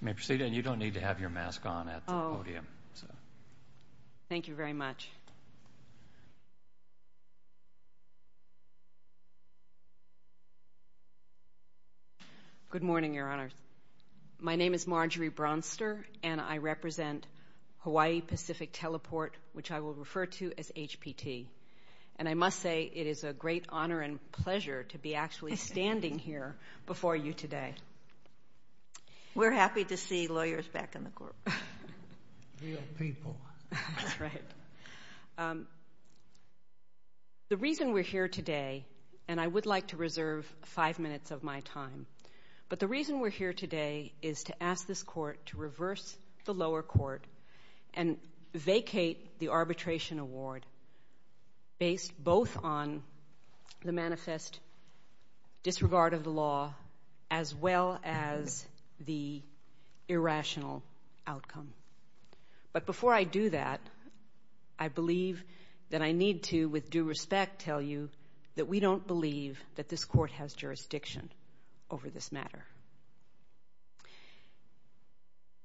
You may proceed and you don't need to have your mask on at the podium. Thank you very much. Good morning, Your Honor. My name is Marjorie Bronster and I represent Hawaii Pacific Teleport, which I will refer to as HPT, and I must say it is a great honor and pleasure to be actually standing here before you today. We're happy to see lawyers back in the court. The reason we're here today, and I would like to reserve five minutes of my time, but the reason we're here today is to ask this court to reverse the lower court and vacate the arbitration award based both on the manifest disregard of the law as well as the irrational outcome. But before I do that, I believe that I need to, with due respect, tell you that we don't believe that this court has jurisdiction over this matter.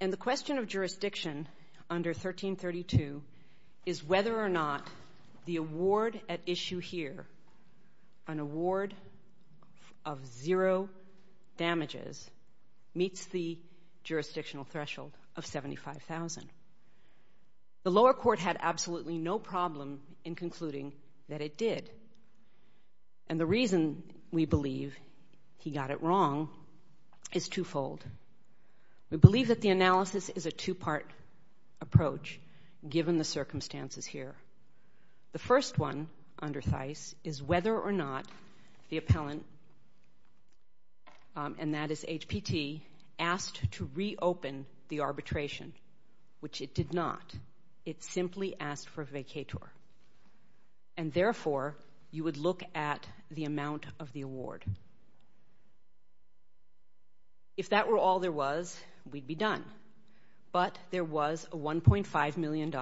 And the question of jurisdiction under 1332 is whether or not the award at issue here, an award of zero damages, meets the jurisdictional threshold of 75,000. The lower court had absolutely no problem in concluding that it did. And the reason we believe that the analysis is a two-part approach given the circumstances here. The first one under Thijs is whether or not the appellant, and that is HPT, asked to reopen the arbitration, which it did not. It simply asked for a vacator. And therefore, you would look at the amount of the award. If that were all there was, we'd be done. But there was a $1.5 million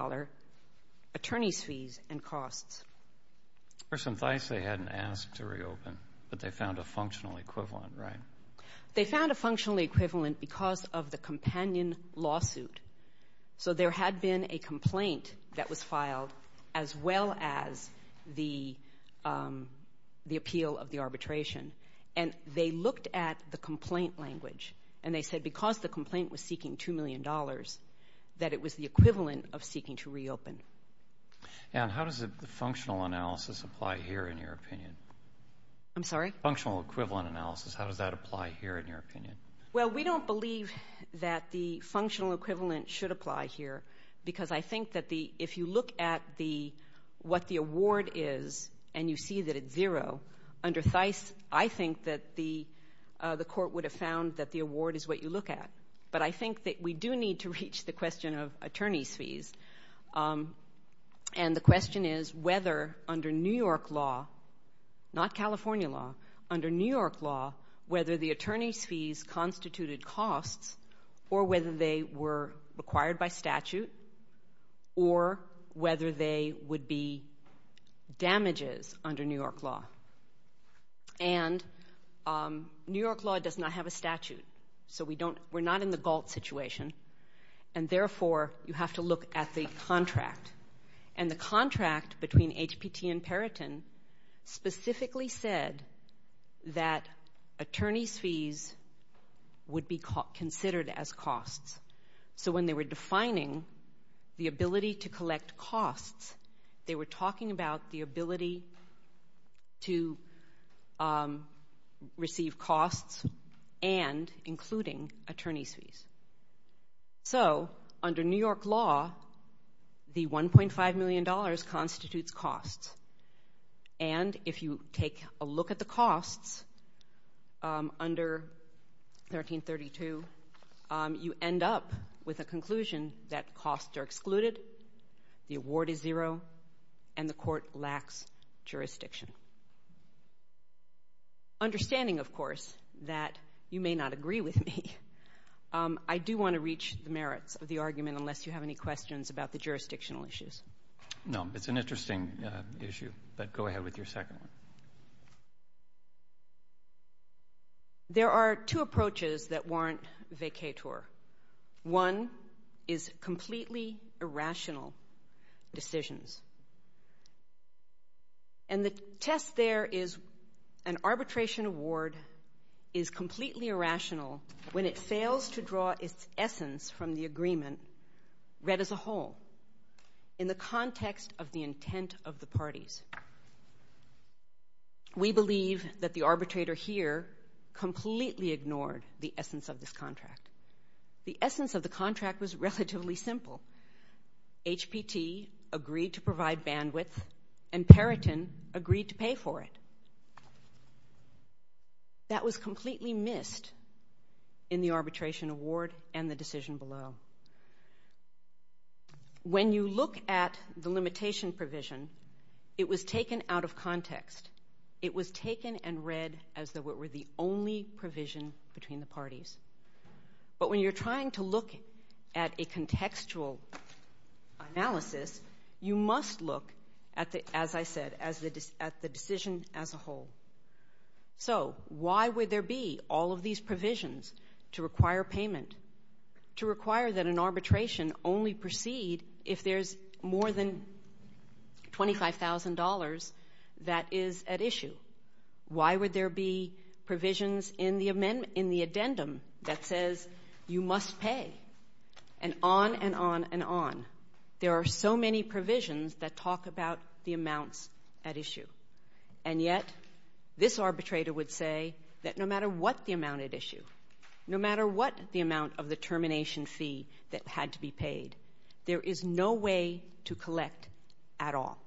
attorney's fees and costs. For some Thijs, they hadn't asked to reopen, but they found a functional equivalent, right? They found a functional equivalent because of the companion lawsuit. So there had been a complaint that was filed as well as the appeal of the arbitration. And they looked at the complaint language, and they said because the complaint was seeking $2 million, that it was the equivalent of seeking to reopen. And how does the functional analysis apply here in your opinion? I'm sorry? Functional equivalent analysis. How does that apply here in your opinion? Well, we don't believe that the functional equivalent should apply here because I think that if you look at what the award is and you see that it's zero, under Thijs, I think that the court would have found that the award is what you look at. But I think that we do need to reach the question of attorney's fees. And the question is whether under New York law, not California law, under New York law, whether the attorney's fees constituted costs or whether they were required by statute or whether they would be damages under New York law. And New York law does not have a statute. So we're not in the Galt situation. And therefore, you have to look at the contract. And the contract between HPT and Periton specifically said that attorney's fees would be considered as costs. So when they were defining the ability to collect costs, they were considering receiving costs and including attorney's fees. So under New York law, the $1.5 million constitutes costs. And if you take a look at the costs under 1332, you end up with a conclusion that costs are excluded, the understanding, of course, that you may not agree with me. I do want to reach the merits of the argument unless you have any questions about the jurisdictional issues. No, it's an interesting issue. But go ahead with your second one. There are two approaches that warrant vacatur. One is completely irrational decisions. And the test there is an arbitration award is completely irrational when it fails to draw its essence from the agreement read as a whole in the context of the intent of the parties. We believe that the arbitrator here completely ignored the essence of this contract. The essence of the contract was relatively simple. HPT agreed to provide bandwidth and Periton agreed to pay for it. That was completely missed in the arbitration award and the decision below. When you look at the limitation provision, it was taken out of context. It was taken and read as though it were the only provision between the parties. But when you're trying to look at a contextual analysis, you must look, as I said, at the decision as a whole. So why would there be all of these provisions to require payment, to require that an arbitration only proceed if there's more than $25,000 that is at issue? Why would there be provisions in the addendum that says you must pay? And on and on and on. There are so many provisions that talk about the amounts at issue. And yet, this arbitrator would say that no matter what the amount at issue, no matter what the amount of the termination fee that had to be paid, there is no way to collect at all.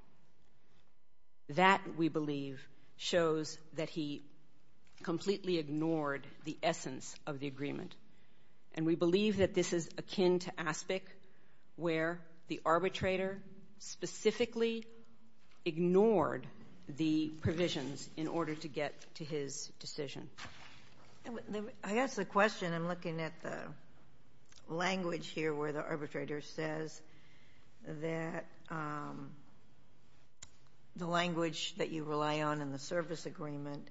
That, we believe, shows that he completely ignored the essence of the agreement. And we believe that this is akin to ASPIC, where the arbitrator specifically ignored the provisions in order to get to his decision. I guess the question, I'm looking at the language here where the arbitrator says that the language that you rely on in the service agreement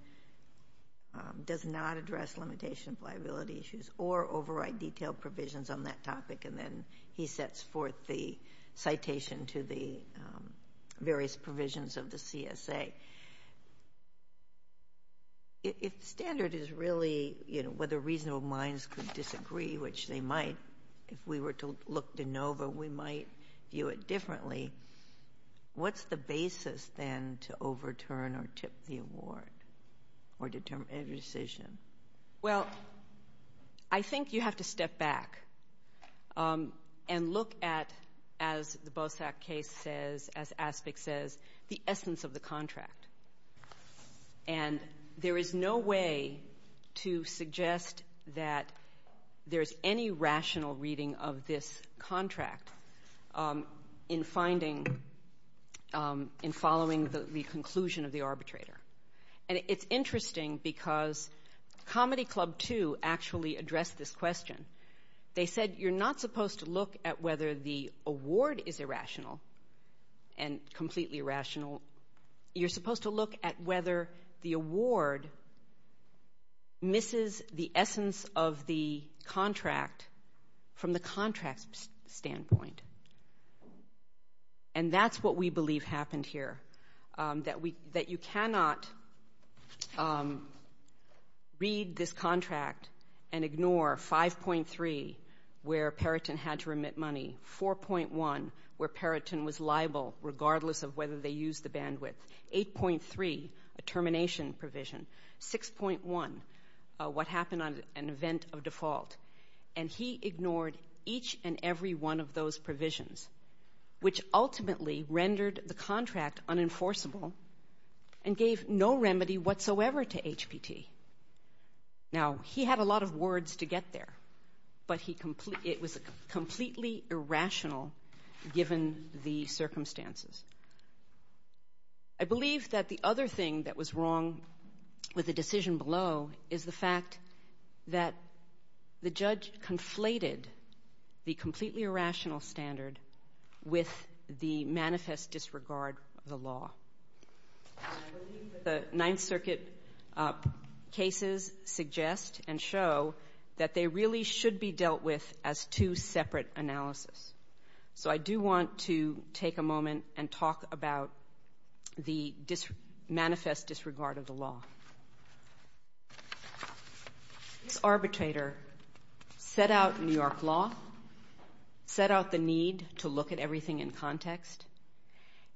does not address limitation of liability issues or override detailed provisions on that topic. And then he sets forth the citation to the various provisions of the CSA. If standard is really, you know, whether reasonable minds could know, but we might view it differently, what's the basis, then, to overturn or tip the award or determine a decision? Well, I think you have to step back and look at, as the BOSAC case says, as ASPIC says, the essence of the contract. And there is no way to suggest that there's any rational reading of this contract in finding, in following the conclusion of the arbitrator. And it's interesting because Comedy Club, too, actually addressed this question. They said, you're not supposed to look at whether the award is irrational and completely irrational. You're supposed to look at whether the award misses the essence of the contract from the contract's standpoint. And that's what we believe happened here, that you cannot read this contract and ignore 5.3, where Perrotton had to remit money, 4.1, where Perrotton was liable, regardless of whether they used the termination provision, 6.1, what happened on an event of default. And he ignored each and every one of those provisions, which ultimately rendered the contract unenforceable and gave no remedy whatsoever to HPT. Now, he had a lot of words to get there, but it was completely irrational, given the thing that was wrong with the decision below is the fact that the judge conflated the completely irrational standard with the manifest disregard of the law. I believe that the Ninth Circuit cases suggest and show that they really should be dealt with as two separate analysis. So I do want to take a moment to talk about the manifest disregard of the law. This arbitrator set out New York law, set out the need to look at everything in context,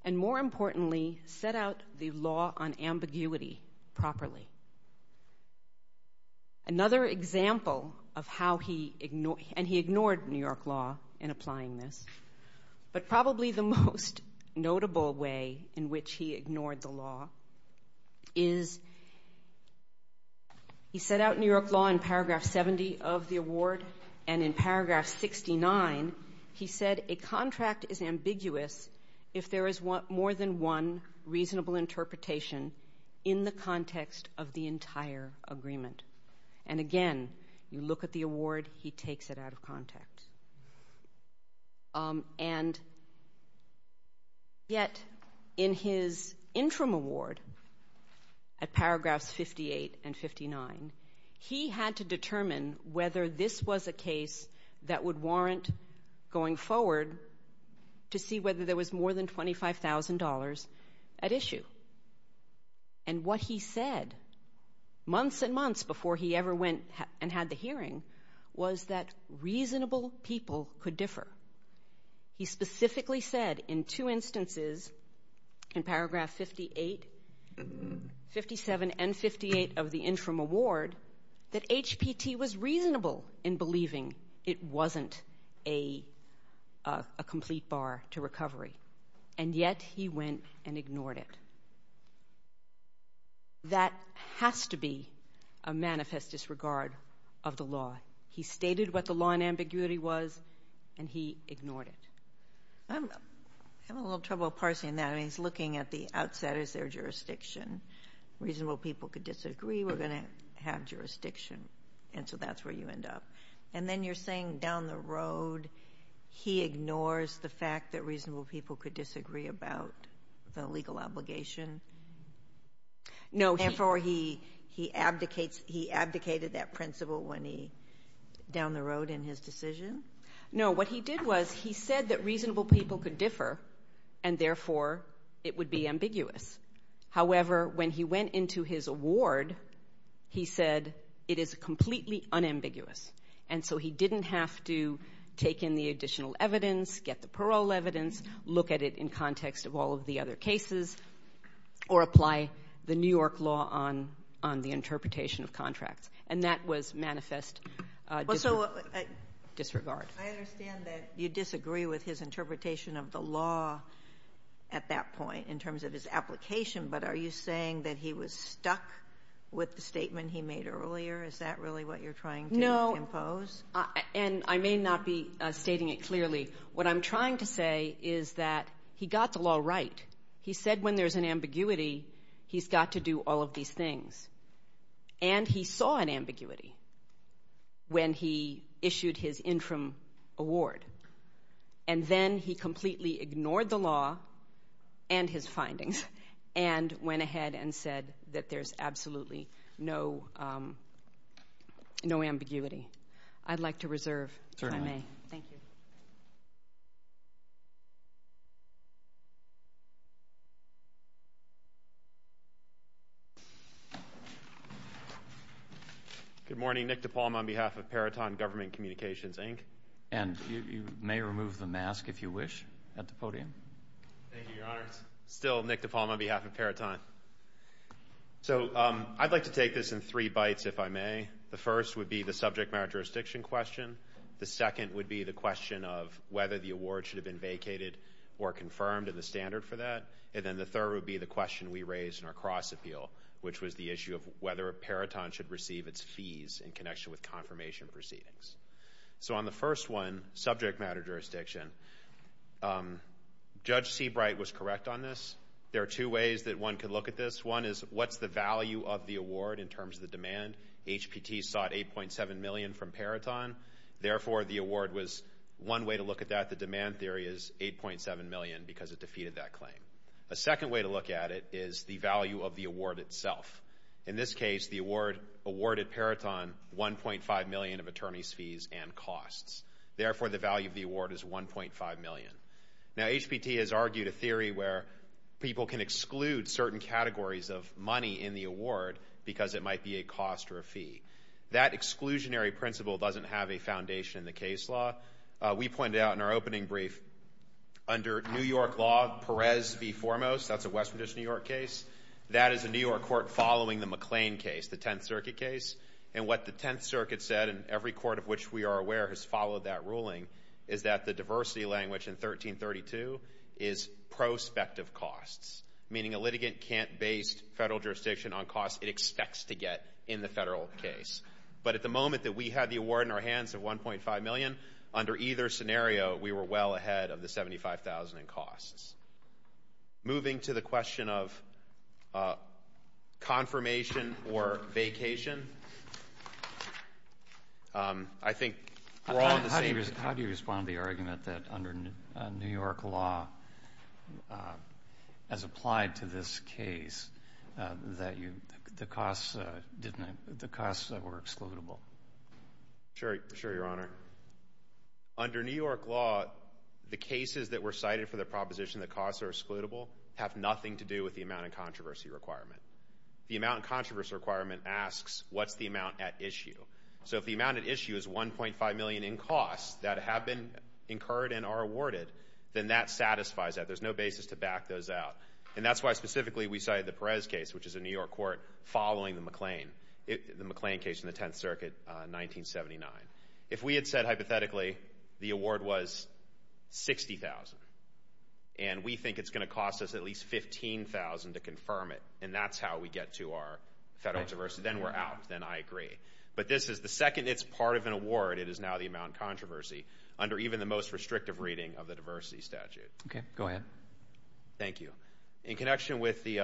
and more importantly, set out the law on ambiguity properly. Another example of how he ignored New York law in applying this, but probably the most way in which he ignored the law, is he set out New York law in paragraph 70 of the award, and in paragraph 69, he said a contract is ambiguous if there is more than one reasonable interpretation in the context of the entire agreement. And in his interim award, at paragraphs 58 and 59, he had to determine whether this was a case that would warrant going forward to see whether there was more than $25,000 at issue. And what he said, months and months before he ever went and had the hearing, was that reasonable people could differ. He specifically said in two instances, in paragraph 58, 57 and 58 of the interim award, that HPT was reasonable in believing it wasn't a complete bar to recovery, and yet he went and ignored it. That has to be a manifest disregard of the law. He stated what the law on ambiguity was, and he ignored it. I'm having a little trouble parsing that. I mean, he's looking at the outset. Is there jurisdiction? Reasonable people could disagree. We're going to have jurisdiction, and so that's where you end up. And then you're saying down the road, he ignores the fact that reasonable people could disagree about the legal obligation? No. Therefore, he abdicates, he abdicates in his decision? No. What he did was, he said that reasonable people could differ, and therefore, it would be ambiguous. However, when he went into his award, he said, it is completely unambiguous. And so he didn't have to take in the additional evidence, get the parole evidence, look at it in context of all of the other cases, or apply the New York law on the interpretation of contracts. And that was manifest disregard. I understand that you disagree with his interpretation of the law at that point, in terms of his application, but are you saying that he was stuck with the statement he made earlier? Is that really what you're trying to impose? No. And I may not be stating it clearly. What I'm trying to say is that he got the law right. He said when there's an ambiguity, he's got to do all of these things. And he saw an ambiguity when he issued his interim award. And then he completely ignored the law and his findings, and went ahead and said that there's absolutely no ambiguity. I'd like to reserve if I may. Thank you. Good morning. Nick DePalma on behalf of Periton Government Communications, Inc. And you may remove the mask, if you wish, at the podium. Thank you, Your Honor. Still Nick DePalma on behalf of Periton. So I'd like to take this in three bites, if I may. The first would be the subject matter jurisdiction question. The second would be the question of whether the award should have been vacated or confirmed, and the standard for that. And then the third would be the question, which was the issue of whether Periton should receive its fees in connection with confirmation proceedings. So on the first one, subject matter jurisdiction, Judge Seabright was correct on this. There are two ways that one could look at this. One is, what's the value of the award in terms of the demand? HPT sought $8.7 million from Periton. Therefore, the award was one way to look at that. The demand theory is $8.7 million, because it defeated that claim. A second way to look at it is the value of the award itself. In this case, the award awarded Periton $1.5 million of attorney's fees and costs. Therefore, the value of the award is $1.5 million. Now, HPT has argued a theory where people can exclude certain categories of money in the award because it might be a cost or a fee. That exclusionary principle doesn't have a foundation in the case law. We pointed out in our opening brief, under New York law, Perez v. Foremost, that's a Western District of New York case. That is a New York court following the McLean case, the Tenth Circuit case. And what the Tenth Circuit said, and every court of which we are aware has followed that ruling, is that the diversity language in 1332 is prospective costs, meaning a litigant can't base federal jurisdiction on costs it expects to get in the federal case. But at the moment that we had the scenario, we were well ahead of the $75,000 in costs. Moving to the question of confirmation or vacation, I think we're all on the same page. How do you respond to the argument that under New York law, as applied to this case, that the costs were excludable? Sure, Your Honor. Under New York law, the cases that were cited for the proposition that costs are excludable have nothing to do with the amount of controversy requirement. The amount of controversy requirement asks, what's the amount at issue? So if the amount at issue is $1.5 million in costs that have been incurred and are awarded, then that satisfies that. There's no basis to back those out. And that's why specifically we cited the Perez case, which is a New York court following the McLean case in the Tenth Circuit in 1979. If we had said hypothetically the award was $60,000 and we think it's going to cost us at least $15,000 to confirm it, and that's how we get to our federal controversy, then we're out, then I agree. But this is the second it's part of an award, it is now the amount of controversy under even the most restrictive reading of the diversity statute. Okay, go ahead. Thank you. In connection with the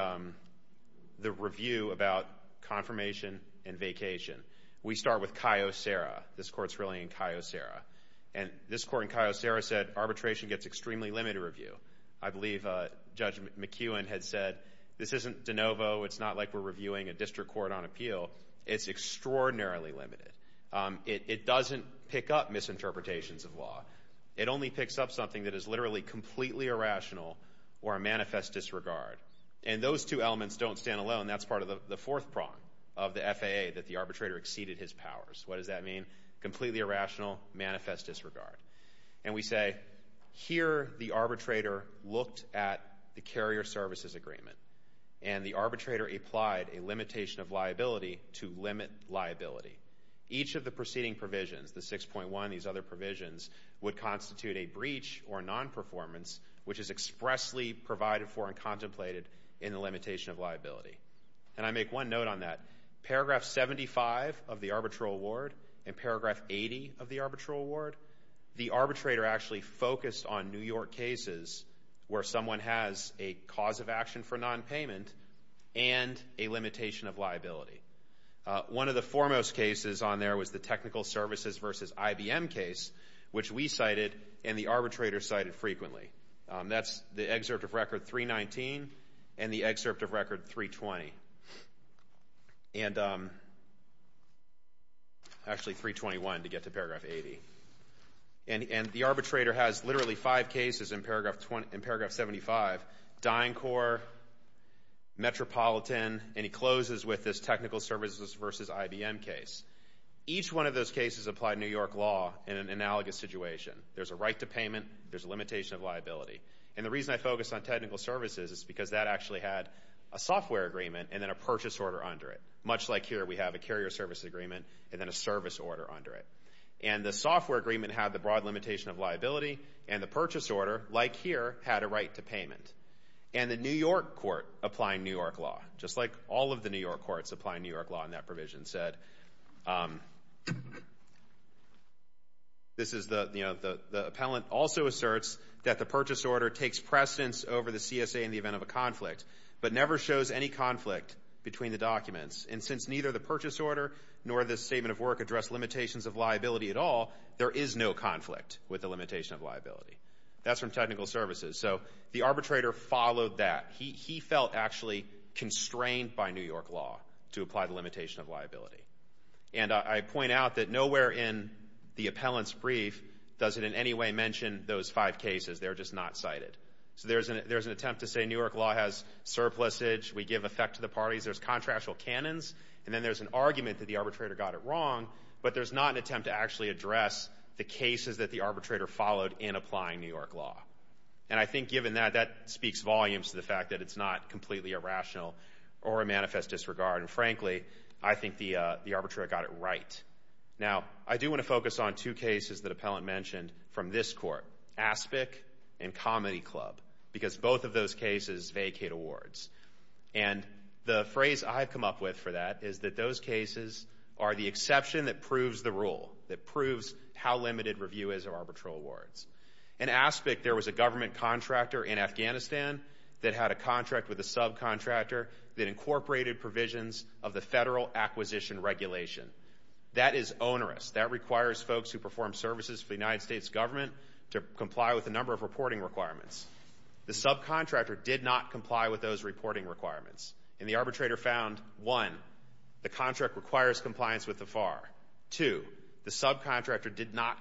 review about confirmation and vacation, we start with Cayo Serra. This court's really in Cayo Serra. And this court in Cayo Serra said arbitration gets extremely limited review. I believe Judge McEwen had said, this isn't de novo. It's not like we're reviewing a district court on appeal. It's extraordinarily limited. It doesn't pick up misinterpretations of law. It only picks up something that is literally completely irrational or a manifest disregard. And those two elements don't stand alone. That's part of the fourth prong of the FAA, that the arbitrator exceeded his powers. What does that mean? Completely irrational, manifest disregard. And we say, here the arbitrator looked at the carrier services agreement. And the arbitrator applied a limitation of liability to limit liability. Each of the preceding provisions, the 6.1, these other provisions, would constitute a breach or non-performance, which is expressly provided for and contemplated in the limitation of liability. And I make one note on that. Paragraph 75 of the arbitral award and paragraph 80 of the arbitral award, the arbitrator actually focused on New York cases where someone has a cause of action for non-payment and a limitation of liability. One of the foremost cases on there was the technical services versus IBM case, which we cited and the arbitrator cited frequently. That's the excerpt of record 319 and the excerpt of record 320. And actually 321 to get to paragraph 80. And the arbitrator has literally five cases in paragraph 75, DynCorp, Metropolitan, and he closes with this technical services versus IBM case. Each one of those cases applied New York law in an analogous situation. There's a right to payment. There's a limitation of liability. And the reason I focus on technical services is because that actually had a software agreement and then a purchase order under it, much like here we have a carrier service agreement and then a service order under it. And the software agreement had the broad limitation of liability and the purchase order, like here, had a right to payment. And the New York law, just like all of the New York courts applying New York law in that provision said, this is the, you know, the appellant also asserts that the purchase order takes precedence over the CSA in the event of a conflict, but never shows any conflict between the documents. And since neither the purchase order nor the statement of work address limitations of liability at all, there is no conflict with the limitation of liability. That's from technical services. So the arbitrator followed that. He felt actually constrained by New York law to apply the limitation of liability. And I point out that nowhere in the appellant's brief does it in any way mention those five cases. They're just not cited. So there's an attempt to say New York law has surplusage. We give effect to the parties. There's contractual canons. And then there's an argument that the arbitrator got it wrong, but there's not an attempt to actually address the And I think given that, that speaks volumes to the fact that it's not completely irrational or a manifest disregard. And frankly, I think the arbitrator got it right. Now, I do want to focus on two cases that appellant mentioned from this court, ASPIC and Comedy Club, because both of those cases vacate awards. And the phrase I've come up with for that is that those cases are the exception that proves the rule, that proves how limited review is of a subcontractor in Afghanistan that had a contract with a subcontractor that incorporated provisions of the federal acquisition regulation. That is onerous. That requires folks who perform services for the United States government to comply with a number of reporting requirements. The subcontractor did not comply with those reporting requirements. And the arbitrator found, one, the contract requires compliance with the FAR. Two, the subcontractor did not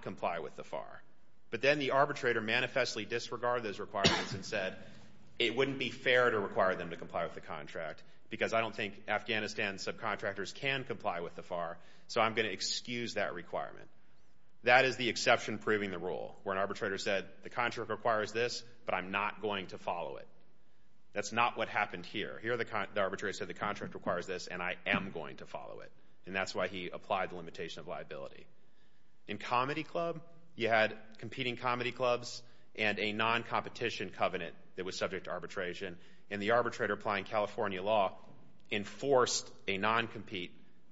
it wouldn't be fair to require them to comply with the contract, because I don't think Afghanistan subcontractors can comply with the FAR, so I'm going to excuse that requirement. That is the exception proving the rule, where an arbitrator said, the contract requires this, but I'm not going to follow it. That's not what happened here. Here, the arbitrator said the contract requires this, and I am going to follow it. And that's why he applied the limitation of liability. In Comedy Club, you had competing comedy clubs and a non- competition covenant that was subject to arbitration. And the arbitrator applying California law enforced a non-compete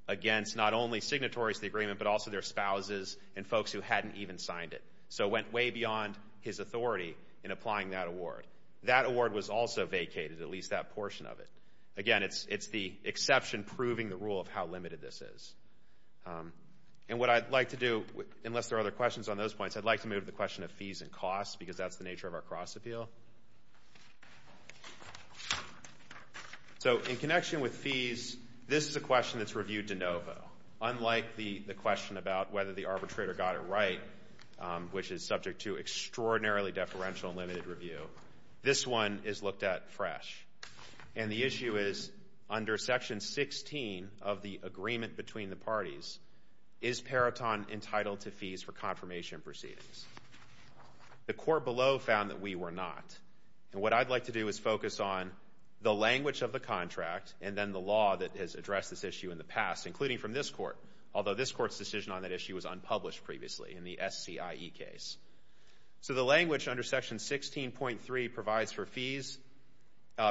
against not only signatories of the agreement, but also their spouses and folks who hadn't even signed it. So it went way beyond his authority in applying that award. That award was also vacated, at least that portion of it. Again, it's the exception proving the rule of how limited this is. And what I'd like to do, unless there are other questions on those points, I'd like to move to the question of fees and confirmation proceedings. So in connection with fees, this is a question that's reviewed de novo. Unlike the question about whether the arbitrator got it right, which is subject to extraordinarily deferential and limited review, this one is looked at fresh. And the issue is, under Section 16 of the agreement between the parties, is Periton entitled to fees for confirmation proceedings. The court below found that we were not. And what I'd like to do is focus on the language of the contract and then the law that has addressed this issue in the past, including from this court, although this court's decision on that issue was unpublished previously in the SCIE case. So the language under Section 16.3 provides for fees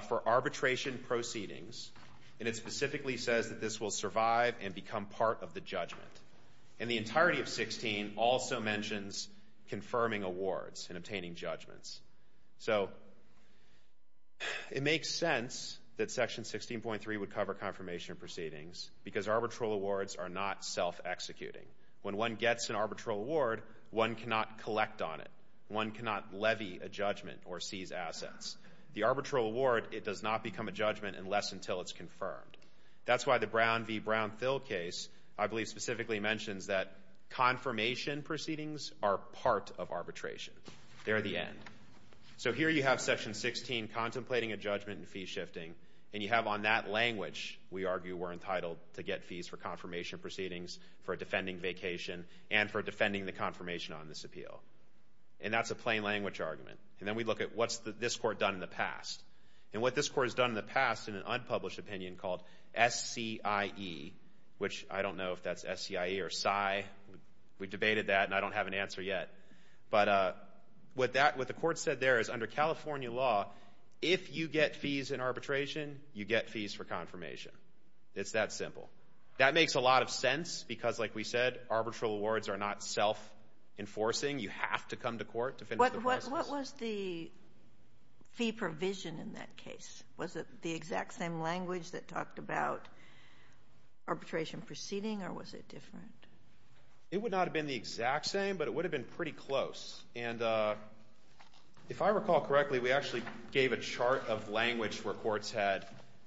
for arbitration proceedings, and it specifically says that this will survive and become part of the judgment. And the entirety of 16 also mentions confirming awards and obtaining judgments. So it makes sense that Section 16.3 would cover confirmation proceedings because arbitral awards are not self-executing. When one gets an arbitral award, one cannot collect on it. One cannot levy a judgment or seize assets. The arbitral award, it does not become a judgment unless until it's confirmed. That's why the Brown v. Brown-Thill case, I believe, specifically mentions that confirmation proceedings are part of arbitration. They're the end. So here you have Section 16 contemplating a judgment and fee shifting. And you have on that language, we argue, we're entitled to get fees for confirmation proceedings, for a defending vacation, and for defending the confirmation on this appeal. And that's a plain language argument. And then we look at what's this court done in the past. And what this court has done in the past in an unpublished opinion called SCIE, which I don't know if that's S-C-I-E or SCIE. We debated that, and I don't have an answer yet. But what the court said there is under California law, if you get fees in arbitration, you get fees for confirmation. It's that simple. That makes a lot of sense because, like we said, arbitral awards are not self-enforcing. You have to come to court to finish the process. So what was the fee provision in that case? Was it the exact same language that talked about arbitration proceeding, or was it different? It would not have been the exact same, but it would have been pretty close. And if I recall correctly, we actually gave a chart of language where courts had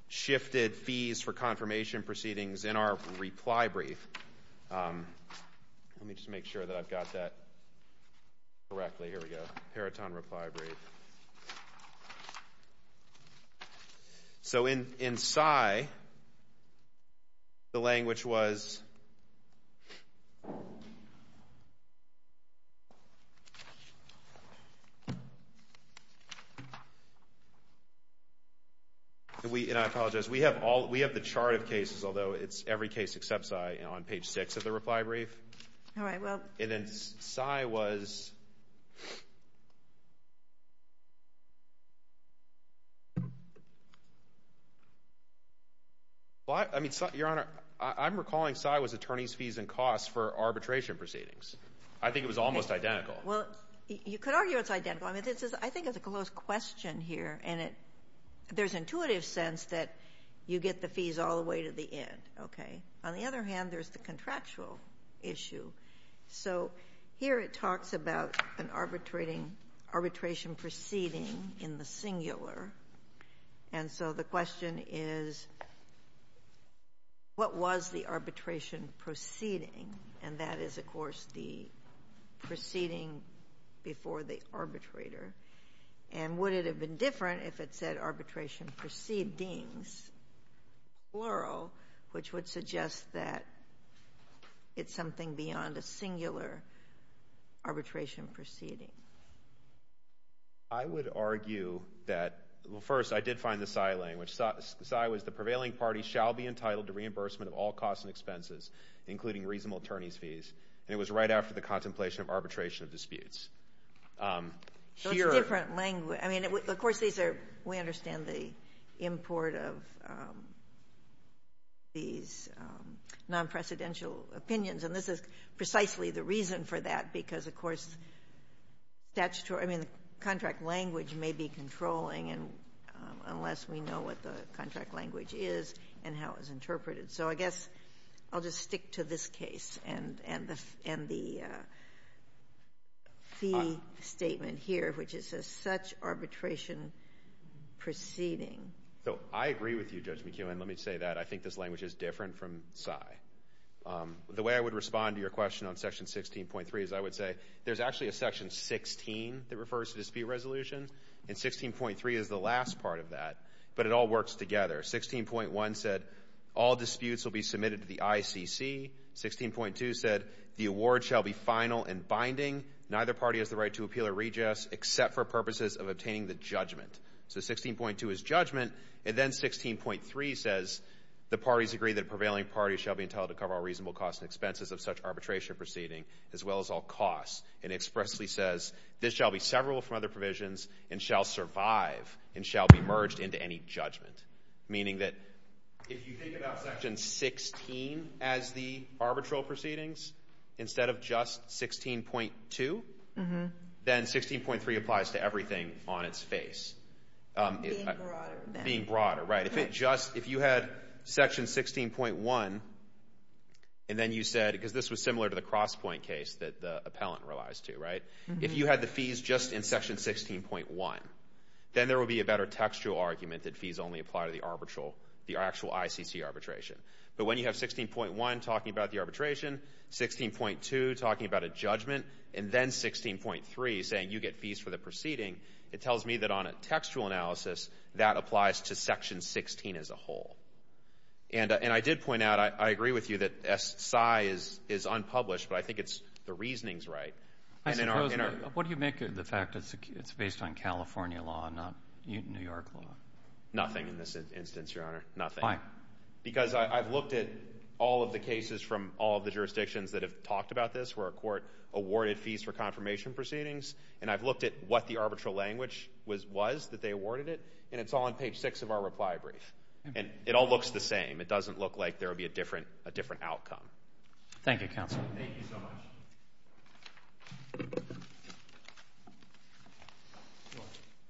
shifted fees for confirmation proceedings in our reply brief. Let me just make sure that I've got that correctly. Here we go. Peritone reply brief. So in SCIE, the language was... And I apologize. We have the chart of cases, although every case except SCIE is on page 6 of the reply brief. And then SCIE was... Your Honor, I'm recalling SCIE was attorneys' fees and costs for arbitration proceedings. I think it was almost identical. Well, you could argue it's identical. I think it's a close question here, and there's intuitive sense that you get the fees all the way to the end. Okay. On the other hand, there's the contractual issue. So here it talks about an arbitration proceeding in the singular. And so the question is, what was the arbitration proceeding? And that is, of course, the proceeding before the arbitrator. And would it have been different if it said arbitration proceedings, plural, which would suggest that it's something beyond a singular arbitration proceeding? I would argue that... Well, first, I did find the SCIE language. SCIE was the prevailing party shall be entitled to reimbursement of all costs and expenses, including reasonable attorneys' fees. And it was right after the contemplation of arbitration of disputes. So it's different language. I mean, of course, we understand the import of these non-precedential opinions, and this is precisely the reason for that, because, of course, statutory... I mean, the contract language may be controlling, unless we know what the contract language is and how it's interpreted. So I guess I'll just stick to this case and the fee statement here, which is a such arbitration proceeding. So I agree with you, Judge McKeown. Let me say that. I think this language is different from SCIE. The way I would respond to your question on Section 16.3 is I would say there's actually a Section 16 that refers to dispute resolution, and 16.3 is the last part of that, but it all works together. 16.1 said all disputes will be submitted to the ICC. 16.2 said the award shall be final and binding. Neither party has the right to appeal or reject, except for purposes of obtaining the judgment. So 16.2 is judgment, and then 16.3 says the parties agree that prevailing parties shall be entitled to cover all reasonable costs and expenses of such arbitration proceeding, as well as all costs, and expressly says this shall be severable from other provisions and shall survive and shall be merged into any judgment, meaning that if you think about Section 16 as the arbitral proceedings, instead of just 16.2, then 16.3 applies to everything on its face. Being broader. Being broader, right. If you had Section 16.1, and then you said, because this was similar to the cross-point case that the appellant relies to, if you had the fees just in Section 16.1, then there would be a better textual argument that fees only apply to the actual ICC arbitration. But when you have 16.1 talking about the arbitration, 16.2 talking about a judgment, and then 16.3 saying you get fees for the proceeding, it tells me that on a textual analysis that applies to Section 16 as a whole. And I did point out, I agree with you that SI is unpublished, but I think the reasoning is right. What do you make of the fact that it's based on California law and not New York law? Nothing in this instance, Your Honor. Why? Because I've looked at all of the cases from all of the jurisdictions that have talked about this where a court awarded fees for confirmation proceedings, and I've looked at what the arbitral language was that they awarded it, and it's all on page 6 of our reply brief. And it all looks the same. It doesn't look like there would be a different outcome. Thank you, counsel. Thank you so much.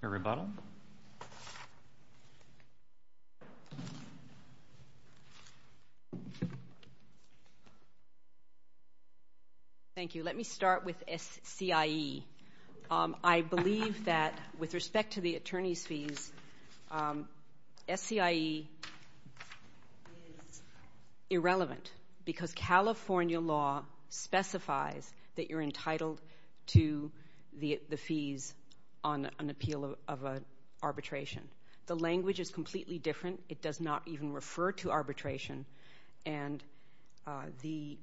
Your rebuttal. Thank you. Let me start with SCIE. I believe that with respect to the attorney's fees, SCIE is irrelevant because California law specifies that you're entitled to the fees on an appeal of arbitration. The language is completely different. It does not even refer to arbitration, and the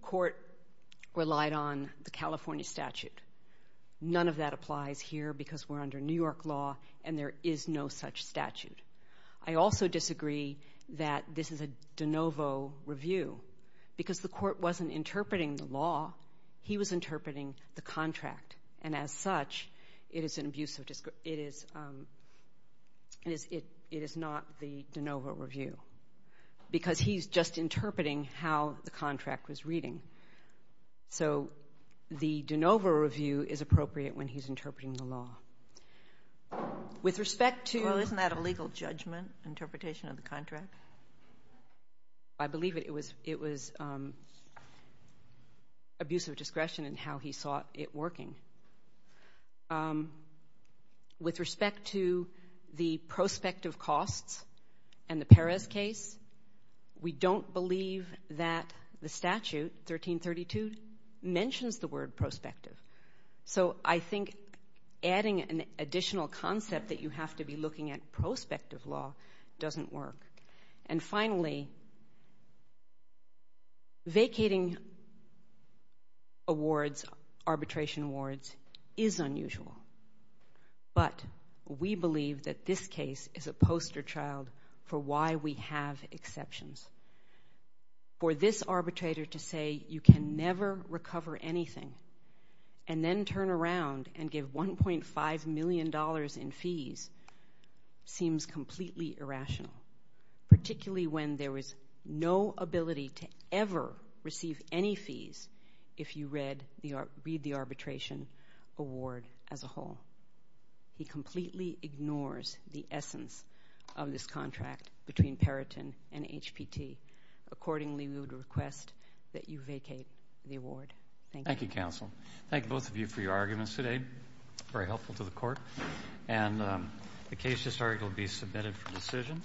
court relied on the California statute. None of that applies here because we're under New York law, and there is no such statute. I also disagree that this is a de novo review because the court wasn't interpreting the law. He was interpreting the contract, and as such, it is not the de novo review because he's just interpreting how the contract was reading. So the de novo review is appropriate when he's interpreting the law. With respect to- Well, isn't that a legal judgment interpretation of the contract? I believe it was abuse of discretion in how he saw it working. With respect to the prospective costs and the Perez case, we don't believe that the statute, 1332, mentions the word prospective. So I think adding an additional concept that you have to be looking at prospective law doesn't work. And finally, vacating awards, arbitration awards, is unusual, but we believe that this case is a poster child for why we have exceptions. For this arbitrator to say you can never recover anything and then turn around and give $1.5 million in fees seems completely irrational, particularly when there is no ability to ever receive any fees if you read the arbitration award as a whole. He completely ignores the essence of this contract between Perriton and HPT. Accordingly, we would request that you vacate the award. Thank you. Thank you, counsel. Thank both of you for your arguments today. Very helpful to the court. And the case history will be submitted for decision.